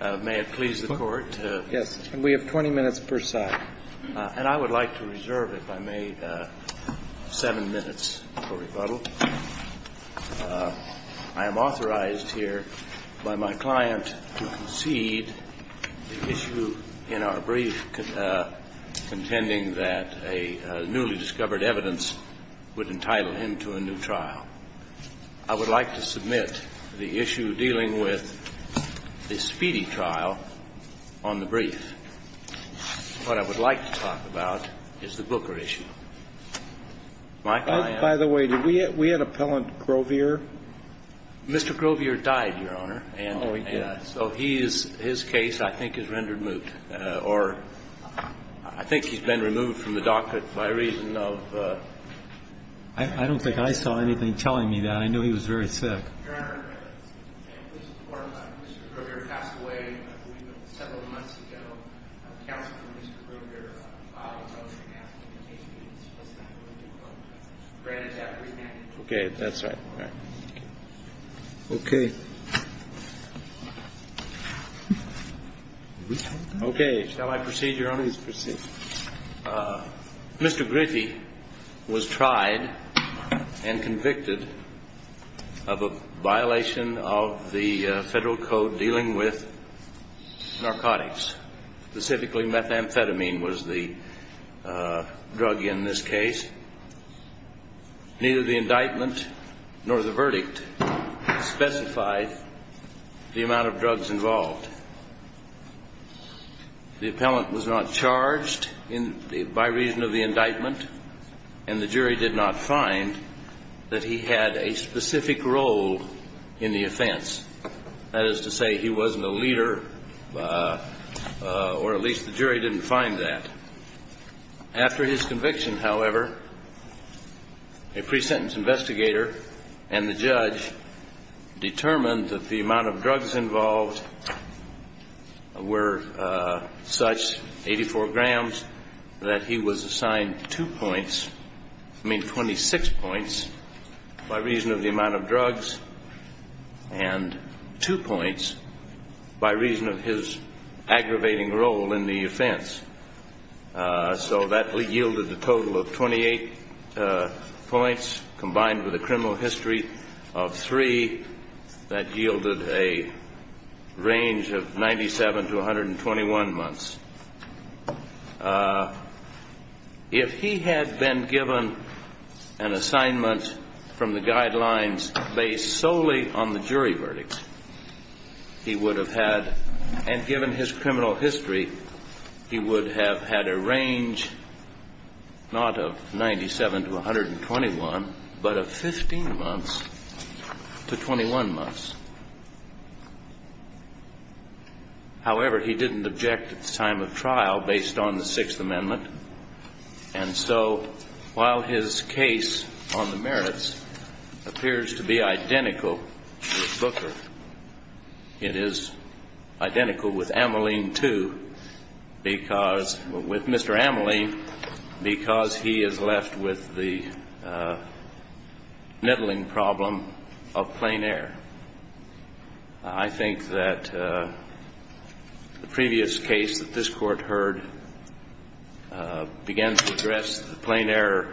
May it please the Court? Yes, and we have 20 minutes per side. And I would like to reserve, if I may, 7 minutes for rebuttal. I am authorized here by my client to concede the issue in our brief, contending that a newly discovered evidence would entitle him to a new trial. I would like to submit the issue dealing with the Speedy trial on the brief. What I would like to talk about is the Booker issue. Michael, I am By the way, did we have Appellant Grovier? Mr. Grovier died, Your Honor, and so he is, his case, I think, is rendered moot. Or I think he's been removed from the docket by reason of I don't think I saw anything telling me that. I knew he was very sick. Your Honor, Mr. Grovier passed away several months ago. Counselor Mr. Grovier filed a motion asking the case to be dismissed. Granted to have remanded. Okay, that's right. Okay. Okay, shall I proceed, Your Honor? Please proceed. Mr. Griffey was tried and convicted of a violation of the Federal Code dealing with narcotics, specifically methamphetamine was the drug in this case. Neither the indictment nor the verdict specified the amount of drugs involved. The appellant was not charged by reason of the indictment, and the jury did not find that he had a specific role in the offense. That is to say, he wasn't a leader, or at least the jury didn't find that. After his conviction, however, a pre-sentence investigator and the judge determined that the amount of drugs involved were such, 84 grams, that he was assigned two points, I mean 26 points, by reason of the amount of drugs, and two points by reason of his aggravating role in the offense. So that yielded a total of 28 points, combined with a criminal history of three, that yielded a range of 97 to 121 months. If he had been given an assignment from the guidelines based solely on the jury verdict, he would have had, and given his criminal history, he would have had a range, not of 97 to 121, but of 15 months to 21 months. However, he didn't object at the time of trial based on the Sixth Amendment, and so while his case on the merits appears to be identical to Booker, it is identical with Mr. Ameline, because he is left with the niddling problem of plain air. I think that the previous case that this Court heard began to address the plain air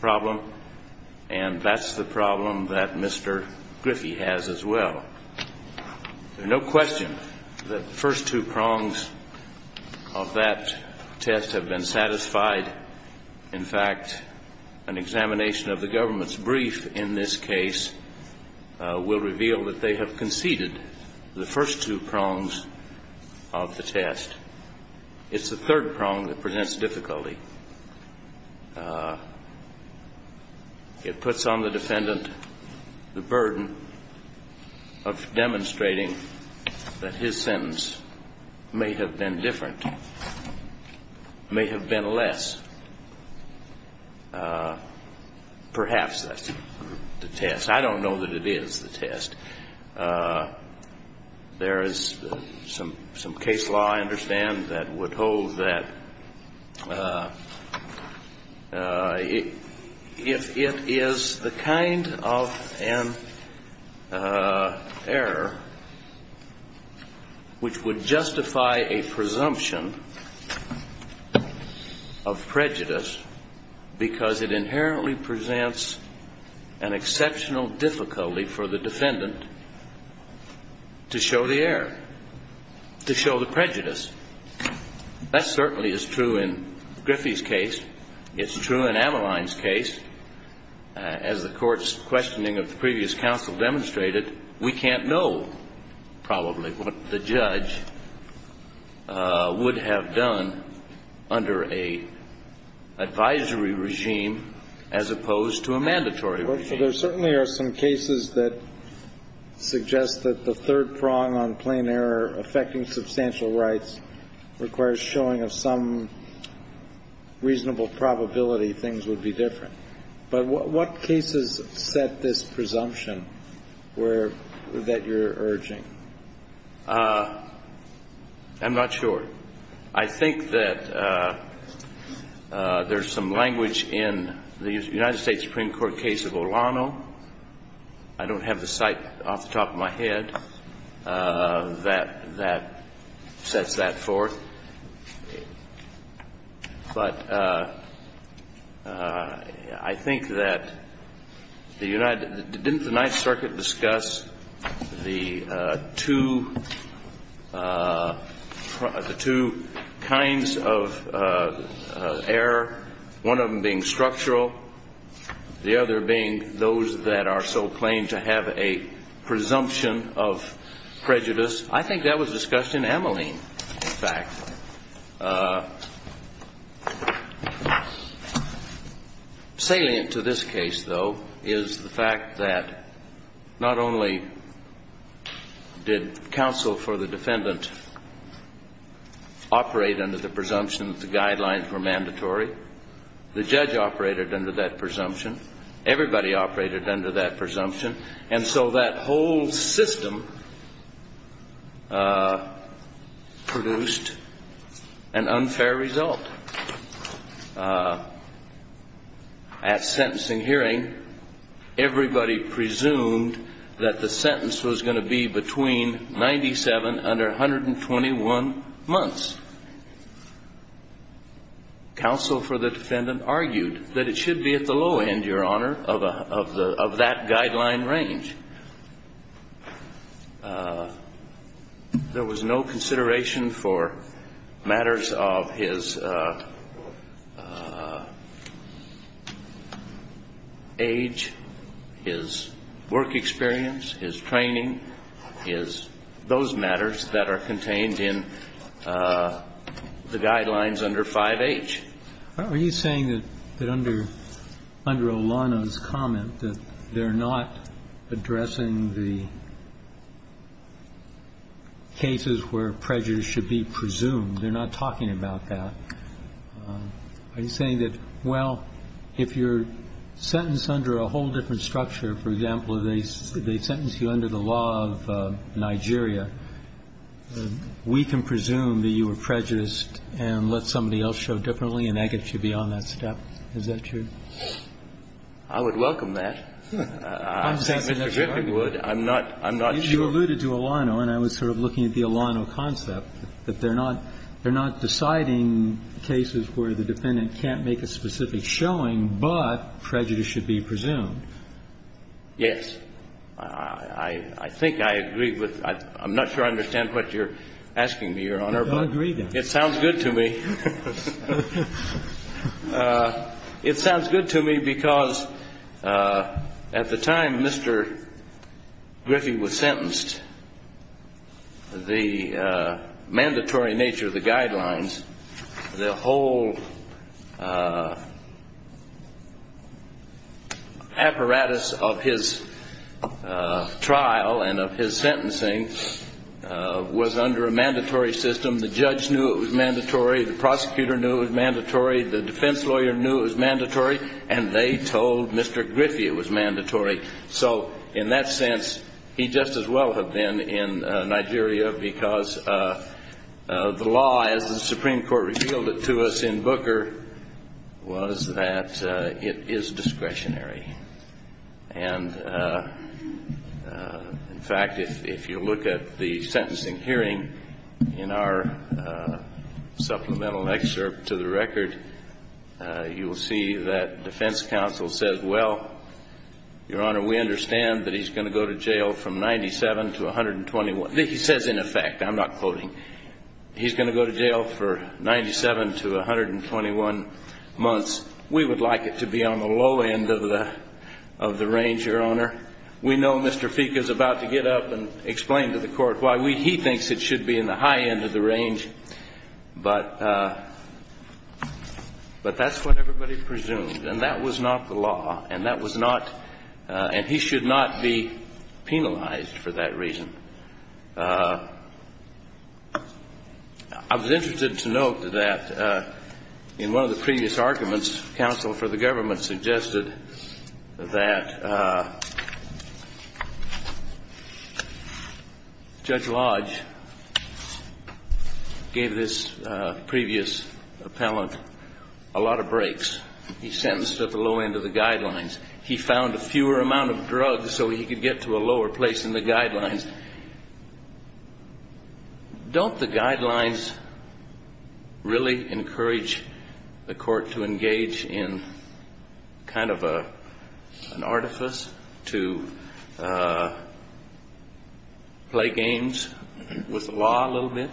problem, and that's the problem that Mr. Griffey has as well. There's no question that the first two prongs of that test have been satisfied. In fact, an examination of the government's brief in this case will reveal that they have conceded the first two prongs of the test. It's the third prong that presents difficulty. It puts on the defendant the burden of demonstrating that his sentence may have been different, may have been less. Perhaps that's the test. I don't know that it is the test. There is some case law, I understand, that would hold that if it is the kind of an error which would justify a presumption of prejudice, because it inherently presents an exceptional difficulty for the defendant to show the error, to show the prejudice. That certainly is true in Griffey's case. It's true in Ameline's case. As the Court's questioning of the previous counsel demonstrated, we can't know probably what the judge would have done under an advisory regime as opposed to a mandatory regime. There certainly are some cases that suggest that the third prong on plain error affecting substantial rights requires showing of some reasonable probability things would be different. But what cases set this presumption that you're urging? I'm not sure. I think that there's some language in the United States Supreme Court case of Olano. I don't have the cite off the top of my head that sets that forth. But I think that the United — didn't the Ninth Circuit discuss the two kinds of error, one of them being structural, the other being those that are so plain to have a presumption of prejudice? I think that was discussed in Ameline, in fact. Salient to this case, though, is the fact that not only did counsel for the defendant operate under the presumption that the guidelines were mandatory, the judge operated under that presumption, everybody operated under that presumption. And so that whole system produced an unfair result. At sentencing hearing, everybody presumed that the sentence was going to be between 97 under 121 months. Counsel for the defendant argued that it should be at the low end, Your Honor, of that guideline range. There was no consideration for matters of his age, his work experience, his training, those matters that are contained in the guidelines under 5H. Are you saying that under Olana's comment that they're not addressing the cases where prejudice should be presumed, they're not talking about that, are you saying that, well, if you're sentenced under a whole different structure, for example, they sentence you under the law of Nigeria, we can presume that you were prejudiced and let somebody else show differently and that gets you beyond that step? Is that true? I would welcome that. Mr. Griffin would. I'm not sure. You alluded to Olano, and I was sort of looking at the Olano concept, that they're not deciding cases where the defendant can't make a specific showing, but prejudice should be presumed. Yes. I think I agree with that. I'm not sure I understand what you're asking me, Your Honor. I don't agree, then. It sounds good to me. It sounds good to me because at the time Mr. Griffin was sentenced, the mandatory nature of the guidelines, the whole apparatus of his trial and of his sentencing was under a mandatory system. The judge knew it was mandatory. The prosecutor knew it was mandatory. The defense lawyer knew it was mandatory. And they told Mr. Griffin it was mandatory. So in that sense, he'd just as well have been in Nigeria because the law, as the Supreme Court revealed it to us in Booker, was that it is discretionary. And in fact, if you look at the sentencing hearing in our supplemental excerpt to the record, you will see that defense counsel says, well, Your Honor, we understand that he's going to go to jail from 97 to 121. He says in effect. I'm not quoting. He's going to go to jail for 97 to 121 months. We would like it to be on the low end of the range, Your Honor. We know Mr. Fieke is about to get up and explain to the court why he thinks it should be in the high end of the range. But that's what everybody presumed. And that was not the law. And that was not. And he should not be penalized for that reason. I was interested to note that in one of the previous arguments, counsel for the government suggested that Judge Lodge gave this previous appellant a lot of breaks. He sentenced at the low end of the guidelines. He found a fewer amount of drugs so he could get to a lower place in the guidelines. Don't the guidelines really encourage the court to engage in kind of an artifice to play games with the law a little bit?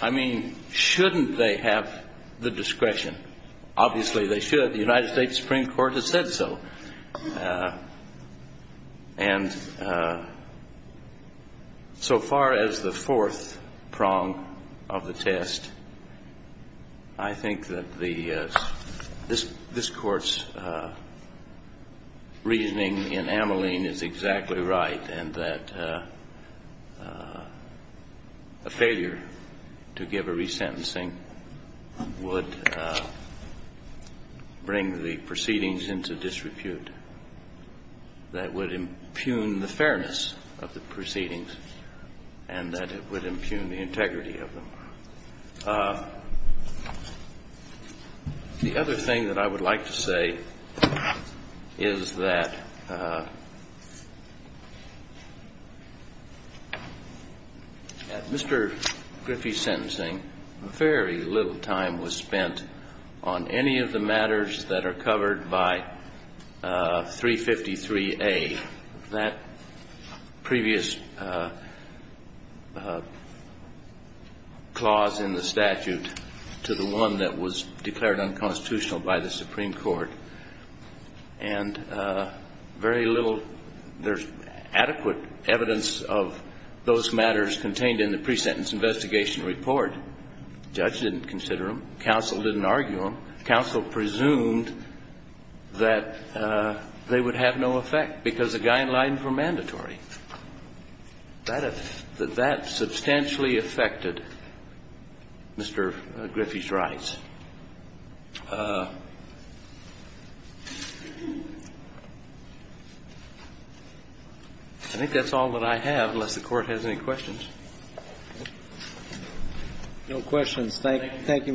I mean, shouldn't they have the discretion? Obviously, they should. The United States Supreme Court has said so. And so far as the fourth prong of the test, I think that this Court's reasoning in Ameline is exactly right, and that a failure to give a resentencing would bring the proceedings into disrepute, that would impugn the fairness of the proceedings, and that it would impugn the integrity of them. The other thing that I would like to say is that at Mr. Griffey's sentencing, very little time was spent on any of the matters that are covered by 353A, that previous clause in the statute to the one that was declared unconstitutional by the court. There's adequate evidence of those matters contained in the pre-sentence investigation report. Judge didn't consider them. Counsel didn't argue them. Counsel presumed that they would have no effect because the guidelines were mandatory. That substantially affected Mr. Griffey's rights. I think that's all that I have, unless the Court has any questions. No questions. May it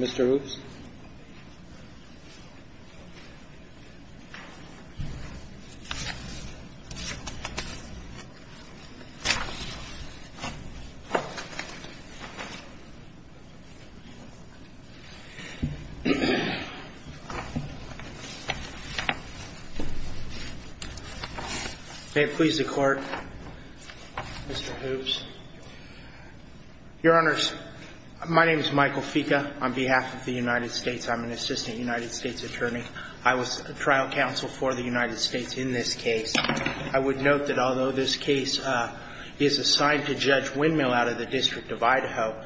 please the Court, Mr. Hoops. Your Honors, my name is Michael Fica. On behalf of the United States, I'm an assistant United States attorney. I was trial counsel for the United States in this case. I would note that although this case is assigned to Judge Windmill out of the District of Idaho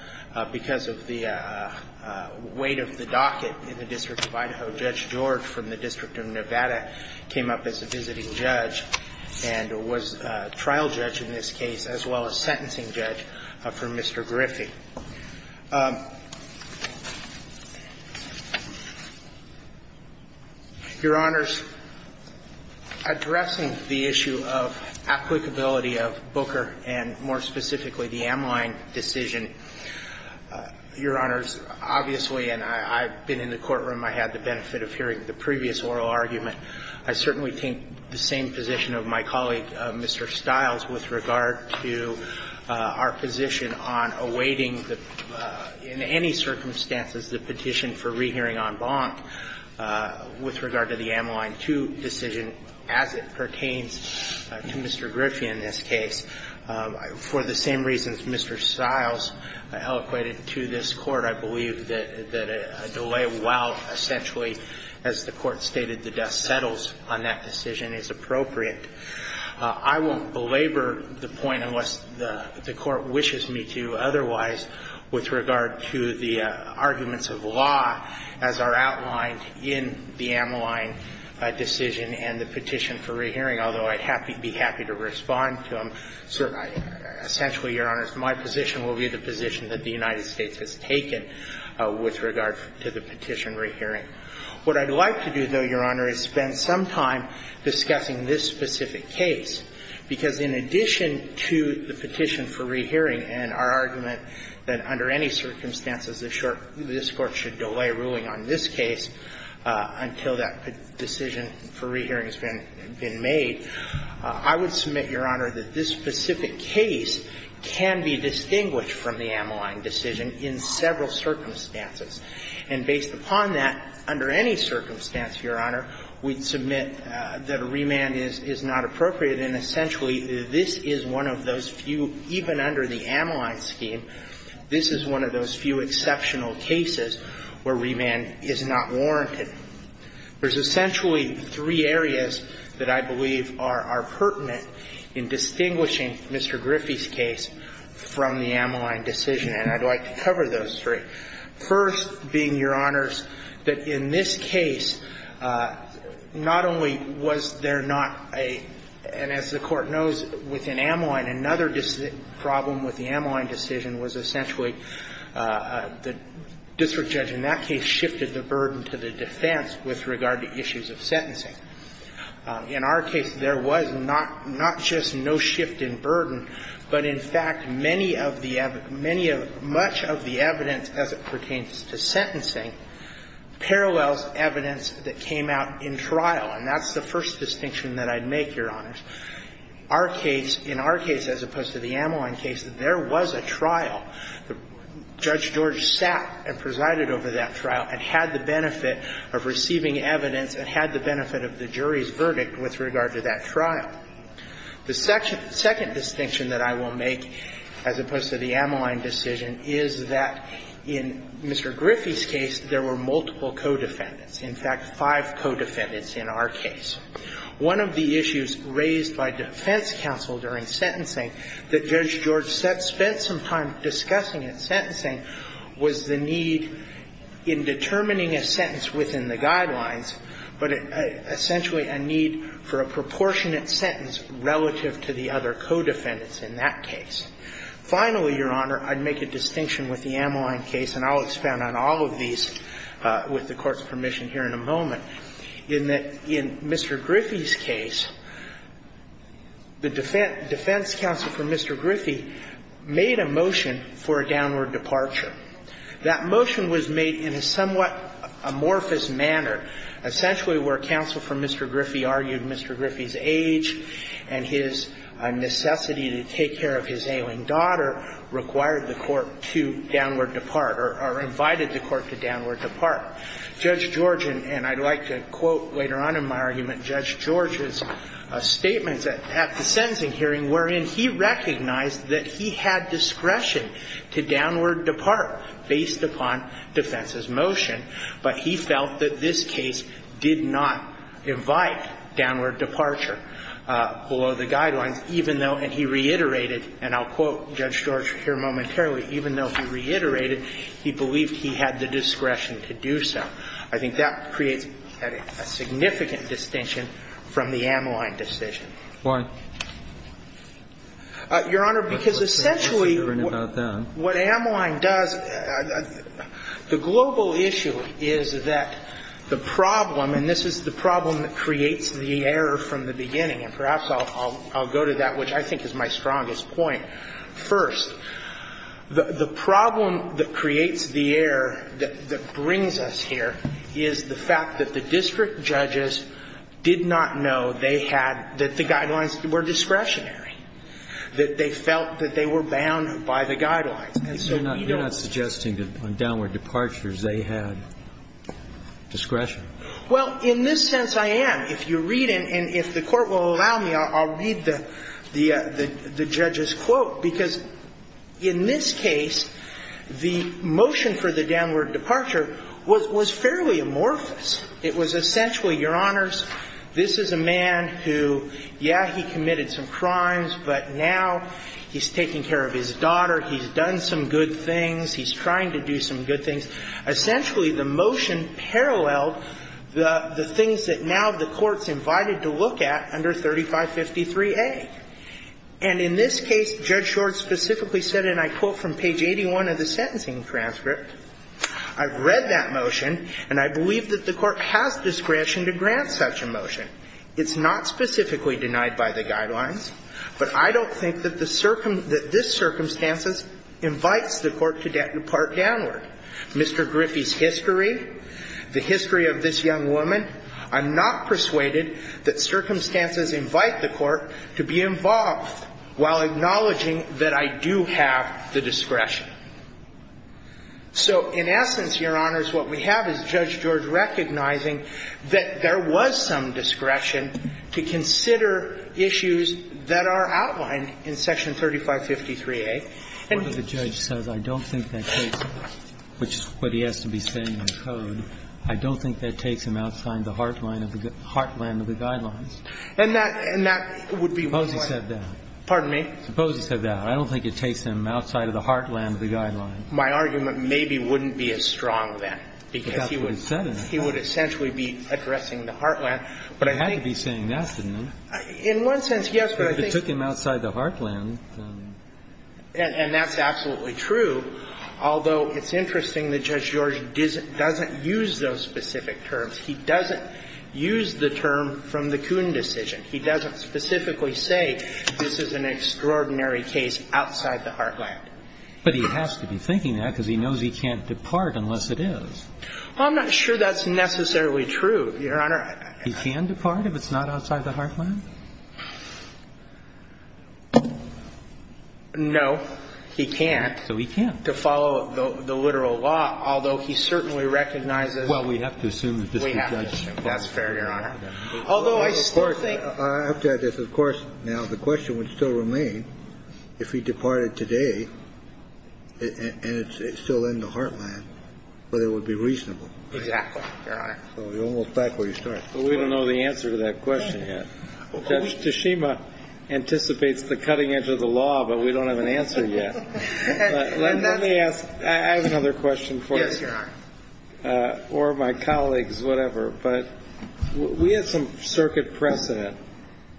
because of the weight of the docket in the District of Idaho, Judge George from the District of Idaho was a sentencing judge and was a trial judge in this case, as well as sentencing judge for Mr. Griffey. Your Honors, addressing the issue of applicability of Booker and more specifically the Amline decision, Your Honors, obviously, and I've been in the courtroom, I had the benefit of hearing the previous oral argument. I certainly think the same position of my colleague, Mr. Stiles, with regard to our position on awaiting, in any circumstances, the petition for rehearing en banc with regard to the Amline 2 decision as it pertains to Mr. Griffey in this case. For the same reasons Mr. Stiles eloquated to this Court, I believe that a delay while essentially, as the Court stated, the death settles on that decision is appropriate. I won't belabor the point unless the Court wishes me to. Otherwise, with regard to the arguments of law as are outlined in the Amline decision and the petition for rehearing, although I'd be happy to respond to them, essentially, Your Honors, my position will be the position that the United States has taken with regard to the petition rehearing. What I'd like to do, though, Your Honor, is spend some time discussing this specific case, because in addition to the petition for rehearing and our argument that under any circumstances this Court should delay ruling on this case until that decision for rehearing has been made, I would submit, Your Honor, that this specific case can be distinguished from the Amline decision in several circumstances. And based upon that, under any circumstance, Your Honor, we'd submit that a remand is not appropriate. And essentially, this is one of those few, even under the Amline scheme, this is one of those few exceptional cases where remand is not warranted. There's essentially three areas that I believe are pertinent in distinguishing Mr. Griffey's case from the Amline decision, and I'd like to cover those three. First being, Your Honors, that in this case, not only was there not a – and as the Court knows, within Amline, another problem with the Amline decision was essentially the district judge in that case shifted the burden to the defense with regard to issues of sentencing. In our case, there was not just no shift in burden, but in fact, many of the – many of – much of the evidence, as it pertains to sentencing, parallels evidence that came out in trial. And that's the first distinction that I'd make, Your Honors. Our case – in our case, as opposed to the Amline case, there was a trial. Judge George sat and presided over that trial and had the benefit of receiving evidence and had the benefit of the jury's verdict with regard to that trial. The second distinction that I will make, as opposed to the Amline decision, is that in Mr. Griffey's case, there were multiple co-defendants, in fact, five co-defendants in our case. One of the issues raised by defense counsel during sentencing that Judge George spent some time discussing in sentencing was the need in determining a sentence within the guidelines, but essentially a need for a proportionate sentence relative to the other co-defendants in that case. Finally, Your Honor, I'd make a distinction with the Amline case, and I'll expand on all of these with the Court's permission here in a moment, in that in Mr. Griffey's case, the defense counsel for Mr. Griffey made a motion for a downward departure. That motion was made in a somewhat amorphous manner, essentially where counsel for Mr. Griffey argued Mr. Griffey's age and his necessity to take care of his ailing daughter required the Court to downward depart or invited the Court to downward depart. Judge George, and I'd like to quote later on in my argument, Judge George's statements at the sentencing hearing wherein he recognized that he had discretion to downward depart based upon defense's motion, but he felt that this case did not invite downward departure below the guidelines, even though, and he reiterated, and I'll quote Judge George here momentarily, even though he reiterated, he believed he had the discretion to do so. I think that creates a significant distinction from the Amline decision. Why? Your Honor, because essentially what Amline does, the global issue is that the problem, and this is the problem that creates the error from the beginning, and perhaps I'll go to that, which I think is my strongest point. First, the problem that creates the error that brings us here is the fact that the guidelines were discretionary, that they felt that they were bound by the guidelines. And so we don't need to be bound by the guidelines. And so you're not suggesting that on downward departures, they had discretion? Well, in this sense, I am. If you read it, and if the Court will allow me, I'll read the judge's quote, because in this case, the motion for the downward departure was fairly amorphous. It was essentially, Your Honors, this is a man who, yeah, he committed some crimes, but now he's taking care of his daughter, he's done some good things, he's trying to do some good things, essentially the motion paralleled the things that now the Court's invited to look at under 3553A. And in this case, Judge Short specifically said, and I quote from page 81 of the sentencing transcript, I've read that motion, and I believe that the Court has discretion to grant such a motion. It's not specifically denied by the guidelines, but I don't think that the circum – that this circumstances invites the Court to depart downward. Mr. Griffey's history, the history of this young woman, I'm not persuaded that circumstances invite the Court to be involved while acknowledging that I do have the discretion. So in essence, Your Honors, what we have is Judge George recognizing that there was some discretion to consider issues that are outlined in section 3553A. And he's – What the judge says, I don't think that takes him, which is what he has to be saying in the code, I don't think that takes him outside the heartland of the guidelines. And that – and that would be one way – Suppose he said that. Pardon me? Suppose he said that. I don't think it takes him outside of the heartland of the guidelines. My argument maybe wouldn't be as strong then, because he would – But that's what he said in it. He would essentially be addressing the heartland. But I think – He had to be saying that, didn't he? In one sense, yes, but I think – But if it took him outside the heartland, then – And that's absolutely true, although it's interesting that Judge George doesn't use those specific terms. He doesn't use the term from the Coon decision. He doesn't specifically say this is an extraordinary case outside the heartland. But he has to be thinking that, because he knows he can't depart unless it is. Well, I'm not sure that's necessarily true, Your Honor. He can depart if it's not outside the heartland? No, he can't. So he can't. To follow the literal law, although he certainly recognizes – Well, we have to assume that this is Judge Clark. That's fair, Your Honor. Although I still think – I have to add this. Of course, now, the question would still remain if he departed today and it's still in the heartland, whether it would be reasonable. Exactly, Your Honor. So you're almost back where you started. But we don't know the answer to that question yet. Judge Tashima anticipates the cutting edge of the law, but we don't have an answer yet. Let me ask – I have another question for you. Yes, Your Honor. I don't know if it's for me or my colleagues, whatever, but we had some circuit precedent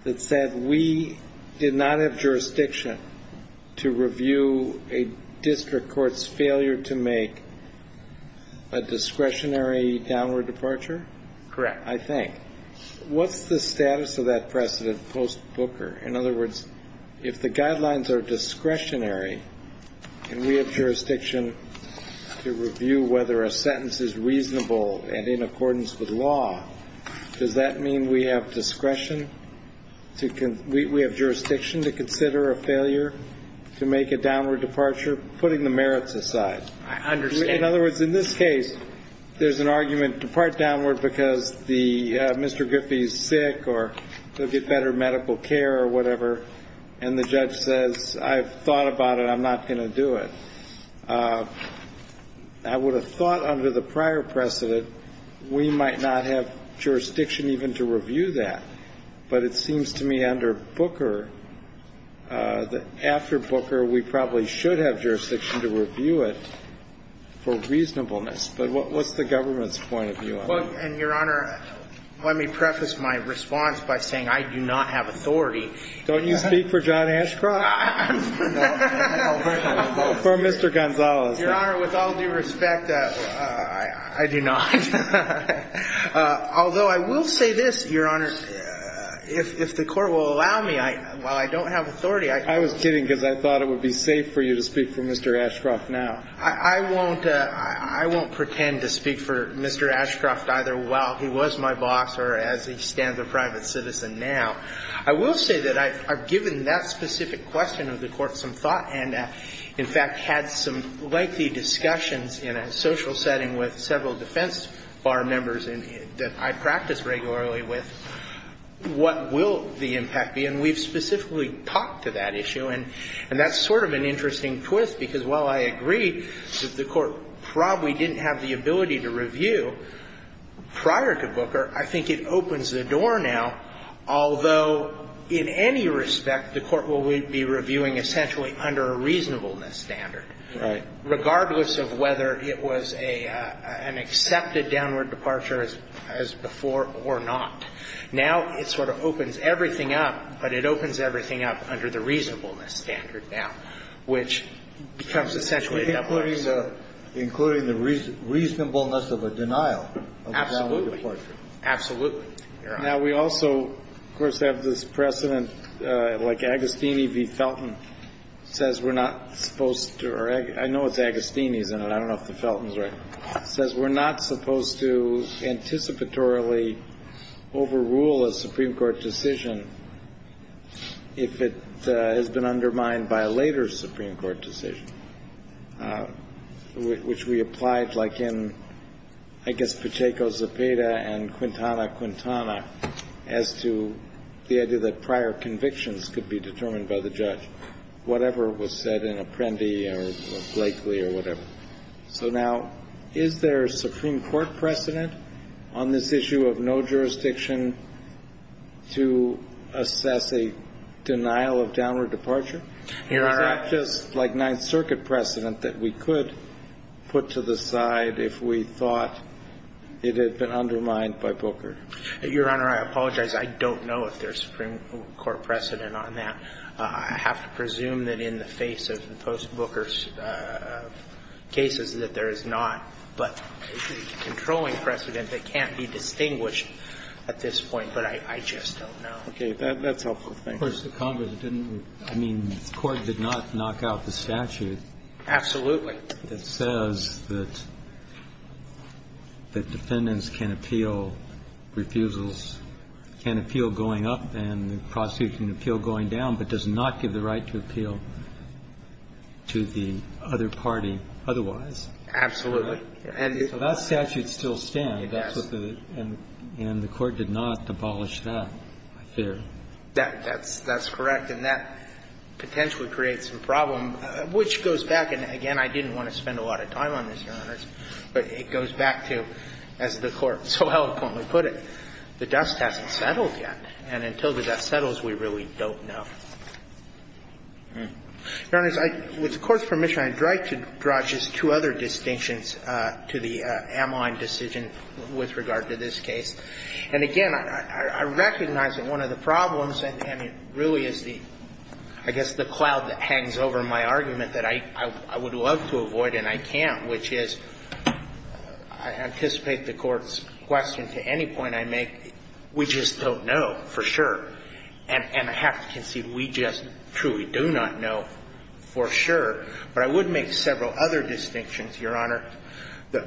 that said we did not have jurisdiction to review a district court's failure to make a discretionary downward departure? Correct. I think. What's the status of that precedent post-Booker? In other words, if the guidelines are discretionary and we have jurisdiction to review whether a sentence is reasonable and in accordance with law, does that mean we have discretion to – we have jurisdiction to consider a failure to make a downward departure, putting the merits aside? I understand. In other words, in this case, there's an argument, depart downward because Mr. Booker's medical care or whatever, and the judge says I've thought about it, I'm not going to do it. I would have thought under the prior precedent we might not have jurisdiction even to review that. But it seems to me under Booker, after Booker, we probably should have jurisdiction to review it for reasonableness. But what's the government's point of view on it? Well, and, Your Honor, let me preface my response by saying I do not have authority. Don't you speak for John Ashcroft? No. For Mr. Gonzales. Your Honor, with all due respect, I do not. Although I will say this, Your Honor, if the court will allow me, while I don't have authority, I can. I was kidding because I thought it would be safe for you to speak for Mr. Ashcroft now. I won't pretend to speak for Mr. Ashcroft either while he was my boss or as he stands a private citizen now. I will say that I've given that specific question of the Court some thought and, in fact, had some lengthy discussions in a social setting with several defense bar members that I practice regularly with what will the impact be. And we've specifically talked to that issue. And that's sort of an interesting twist because while I agree that the Court probably didn't have the ability to review prior to Booker, I think it opens the door now, although in any respect the Court will be reviewing essentially under a reasonableness standard, regardless of whether it was an accepted downward departure as before or not. Now it sort of opens everything up, but it opens everything up under the reasonableness standard now, which becomes essentially a double-edged sword. Kennedy, including the reasonableness of a denial of a downward departure. Absolutely. Absolutely, Your Honor. Now, we also, of course, have this precedent like Agostini v. Felton says we're not supposed to or I know it's Agostini's in it. I don't know if the Felton's right. Says we're not supposed to anticipatorily overrule a Supreme Court decision if it has been undermined by a later Supreme Court decision, which we applied like in, I guess, Pacheco, Zepeda, and Quintana, Quintana as to the idea that prior convictions could be determined by the judge, whatever was said in Apprendi or Blakely or whatever. So now, is there a Supreme Court precedent on this issue of no jurisdiction to assess a denial of downward departure? Your Honor. Or is that just like Ninth Circuit precedent that we could put to the side if we thought it had been undermined by Booker? Your Honor, I apologize. I don't know if there's Supreme Court precedent on that. I have to presume that in the face of the post-Booker cases that there is not. But the controlling precedent that can't be distinguished at this point, but I just don't know. Okay. That's helpful. Thank you. Of course, the Congress didn't. I mean, the Court did not knock out the statute. Absolutely. That says that defendants can appeal refusals, can appeal going up and the prosecution can appeal going down, but does not give the right to appeal to the other party otherwise. Absolutely. So that statute still stands. Yes. And the Court did not abolish that, I fear. That's correct. And that potentially creates a problem, which goes back. And again, I didn't want to spend a lot of time on this, Your Honors, but it goes back to, as the Court so eloquently put it, the dust hasn't settled yet. And until that settles, we really don't know. Your Honors, with the Court's permission, I'd like to draw just two other distinctions to the Amline decision with regard to this case. And again, I recognize that one of the problems, and it really is the, I guess, the cloud that hangs over my argument that I would love to avoid and I can't, which is, I anticipate the Court's question to any point I make, we just don't know for sure. And I have to concede, we just truly do not know for sure. But I would make several other distinctions, Your Honor. The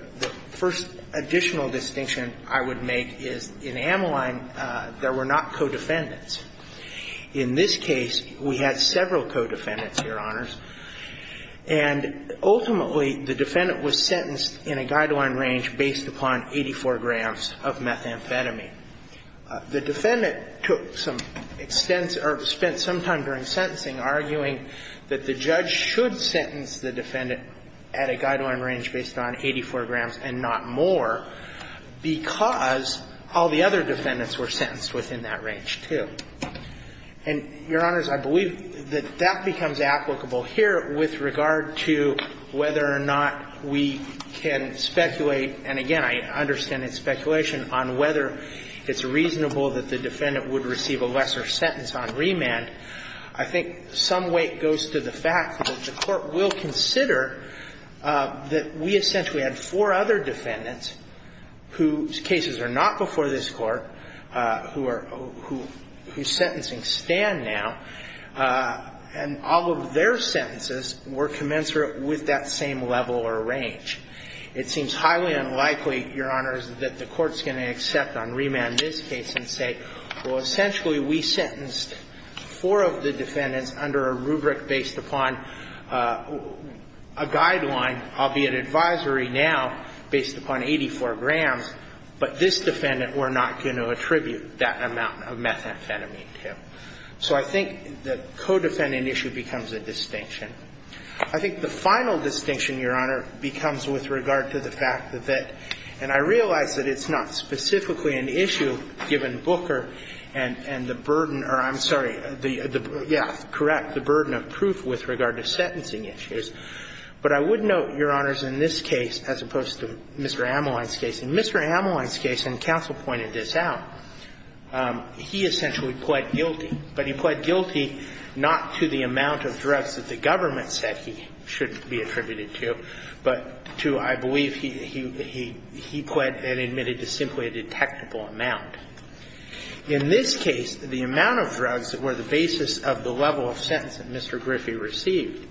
first additional distinction I would make is, in Amline, there were not co-defendants. In this case, we had several co-defendants, Your Honors. And ultimately, the defendant was sentenced in a guideline range based upon 84 grams of methamphetamine. The defendant took some extensive or spent some time during sentencing arguing that the judge should sentence the defendant at a guideline range based on 84 grams and not more because all the other defendants were sentenced within that range, too. And, Your Honors, I believe that that becomes applicable here with regard to whether or not we can speculate, and again, I understand it's speculation on whether it's reasonable that the defendant would receive a lesser sentence on remand. I think some weight goes to the fact that the Court will consider that we essentially had four other defendants whose cases are not before this Court, whose sentencing stand now, and all of their sentences were commensurate with that same level or range. It seems highly unlikely, Your Honors, that the Court's going to accept on remand this case and say, well, essentially we sentenced four of the defendants under a rubric based upon a guideline, albeit advisory now, based upon 84 grams, but this defendant we're not going to attribute that amount of methamphetamine to. So I think the co-defendant issue becomes a distinction. I think the final distinction, Your Honor, becomes with regard to the fact that that – and I realize that it's not specifically an issue given Booker and the burden or, I'm sorry, yeah, correct, the burden of proof with regard to sentencing issues. But I would note, Your Honors, in this case, as opposed to Mr. Ameline's case, in Mr. Ameline's case, and counsel pointed this out, he essentially pled guilty, but he pled guilty not to the amount of drugs that the government said he should be attributed to, but to, I believe, he pled and admitted to simply a detectable amount. In this case, the amount of drugs that were the basis of the level of sentence that Mr. Griffey received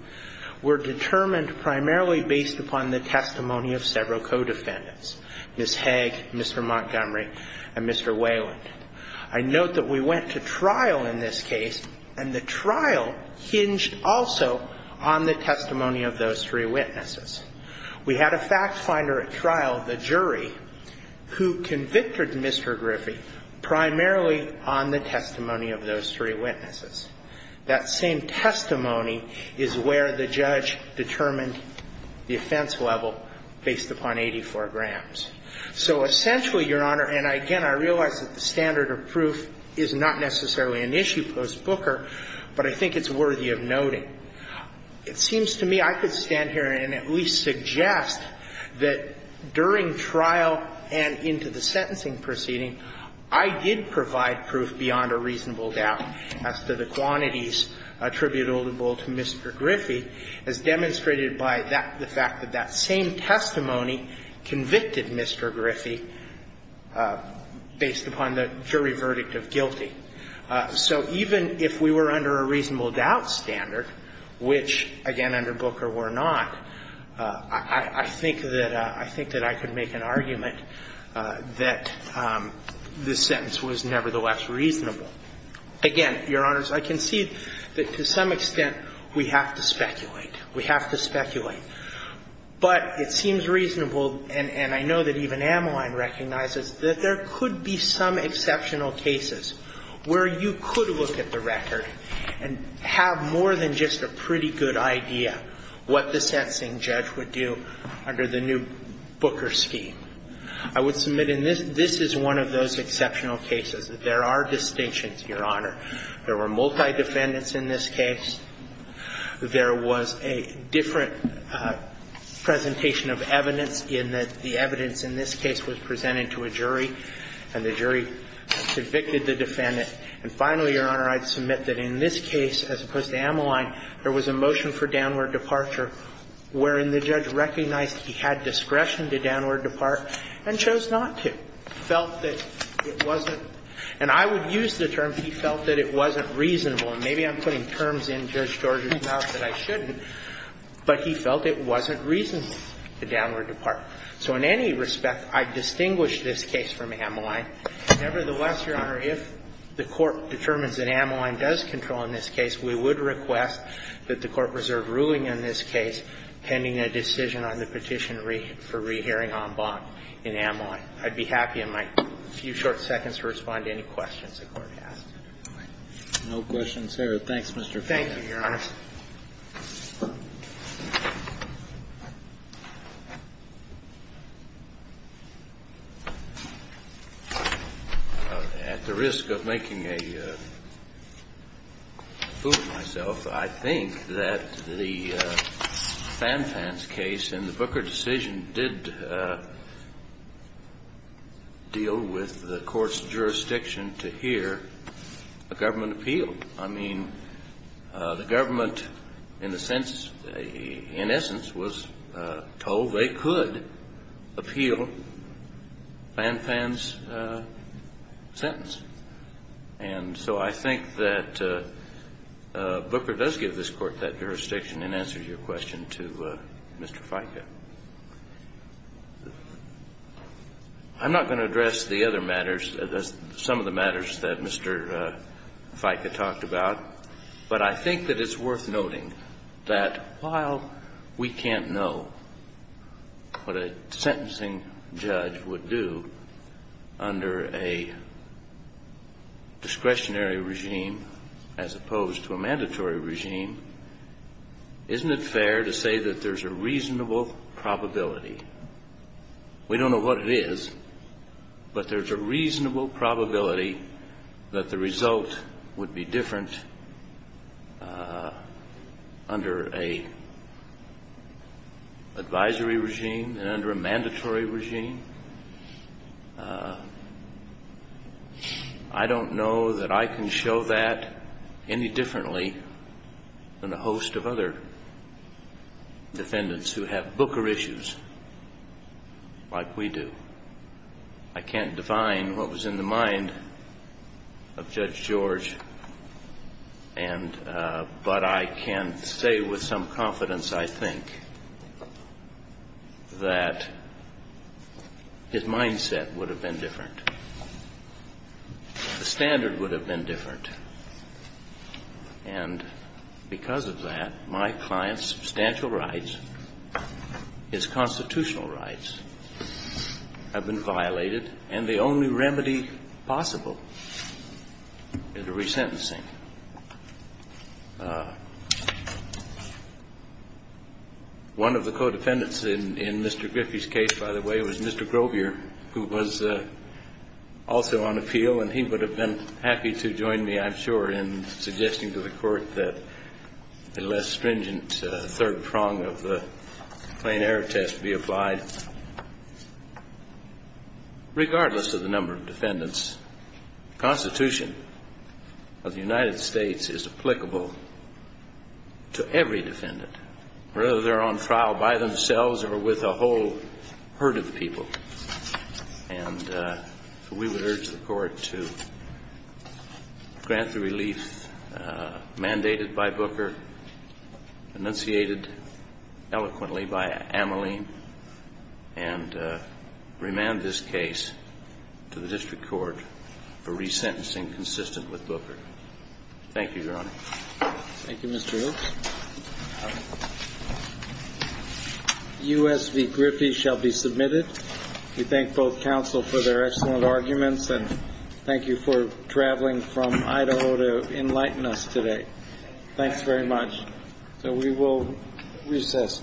were determined primarily based upon the testimony of several co-defendants, Ms. Haig, Mr. Montgomery, and Mr. Wayland. I note that we went to trial in this case, and the trial hinged also on the testimony of those three witnesses. We had a fact finder at trial, the jury, who convicted Mr. Griffey primarily on the testimony of those three witnesses. That same testimony is where the judge determined the offense level based upon 84 grams. So essentially, Your Honor, and again, I realize that the standard of proof is not necessarily an issue post-Booker, but I think it's worthy of noting. It seems to me I could stand here and at least suggest that during trial and into the sentencing proceeding, I did provide proof beyond a reasonable doubt as to the quantities attributable to Mr. Griffey, as demonstrated by that the fact that that same testimony convicted Mr. Griffey based upon the jury verdict of guilty. So even if we were under a reasonable doubt standard, which, again, under Booker were not, I think that I could make an argument that this sentence was nevertheless reasonable. Again, Your Honors, I concede that to some extent we have to speculate. We have to speculate. But it seems reasonable, and I know that even Ameline recognizes, that there could be some exceptional cases where you could look at the record and have more than just a pretty good idea what the sentencing judge would do under the new Booker scheme. I would submit in this, this is one of those exceptional cases that there are distinctions, Your Honor. There were multi-defendants in this case. There was a different presentation of evidence in that the evidence in this case was different, and the jury convicted the defendant. And finally, Your Honor, I'd submit that in this case, as opposed to Ameline, there was a motion for downward departure wherein the judge recognized he had discretion to downward depart and chose not to. Felt that it wasn't, and I would use the term he felt that it wasn't reasonable, and maybe I'm putting terms in Judge George's mouth that I shouldn't, but he felt it wasn't reasonable to downward depart. So in any respect, I distinguish this case from Ameline. Nevertheless, Your Honor, if the Court determines that Ameline does control in this case, we would request that the Court reserve ruling in this case pending a decision on the petition for rehearing en banc in Ameline. I'd be happy in my few short seconds to respond to any questions the Court has. No questions here. Thank you, Your Honor. At the risk of making a fool of myself, I think that the Fanfan's case in the Booker decision did deal with the Court's jurisdiction to hear a government appeal. I mean, the government in the sense, in essence, was told they could appeal Fanfan's sentence. And so I think that Booker does give this Court that jurisdiction in answer to your question to Mr. Fica. I'm not going to address the other matters, some of the matters that Mr. Fica talked about, but I think that it's worth noting that while we can't know what a sentencing judge would do under a discretionary regime as opposed to a mandatory regime, isn't it fair to say that there's a reasonable probability, we don't know what it is, but there's a reasonable probability that the result would be different under an advisory regime than under a mandatory regime? I don't know that I can show that any differently than a host of other defendants who have Booker issues like we do. I can't define what was in the mind of Judge George, but I can say with some confidence, I think, that his mindset would have been different. The standard would have been different. And because of that, my client's substantial rights, his constitutional rights have been violated, and the only remedy possible is a resentencing. One of the co-defendants in Mr. Griffey's case, by the way, was Mr. Grobier, who was also on appeal, and he would have been happy to join me, I'm sure, in suggesting to the Court that a less stringent third prong of the plain error test be applied. Regardless of the number of defendants, the Constitution of the United States is applicable to every defendant, whether they're on trial by themselves or with a whole herd of people. And we would urge the Court to grant the relief mandated by Booker, enunciated eloquently by Ameline, and remand this case to the District Court for resentencing consistent with Booker. Thank you, Your Honor. Thank you, Mr. Oakes. U.S. v. Griffey shall be submitted. We thank both counsel for their excellent arguments, and thank you for traveling from Idaho to enlighten us today. Thanks very much. So we will recess.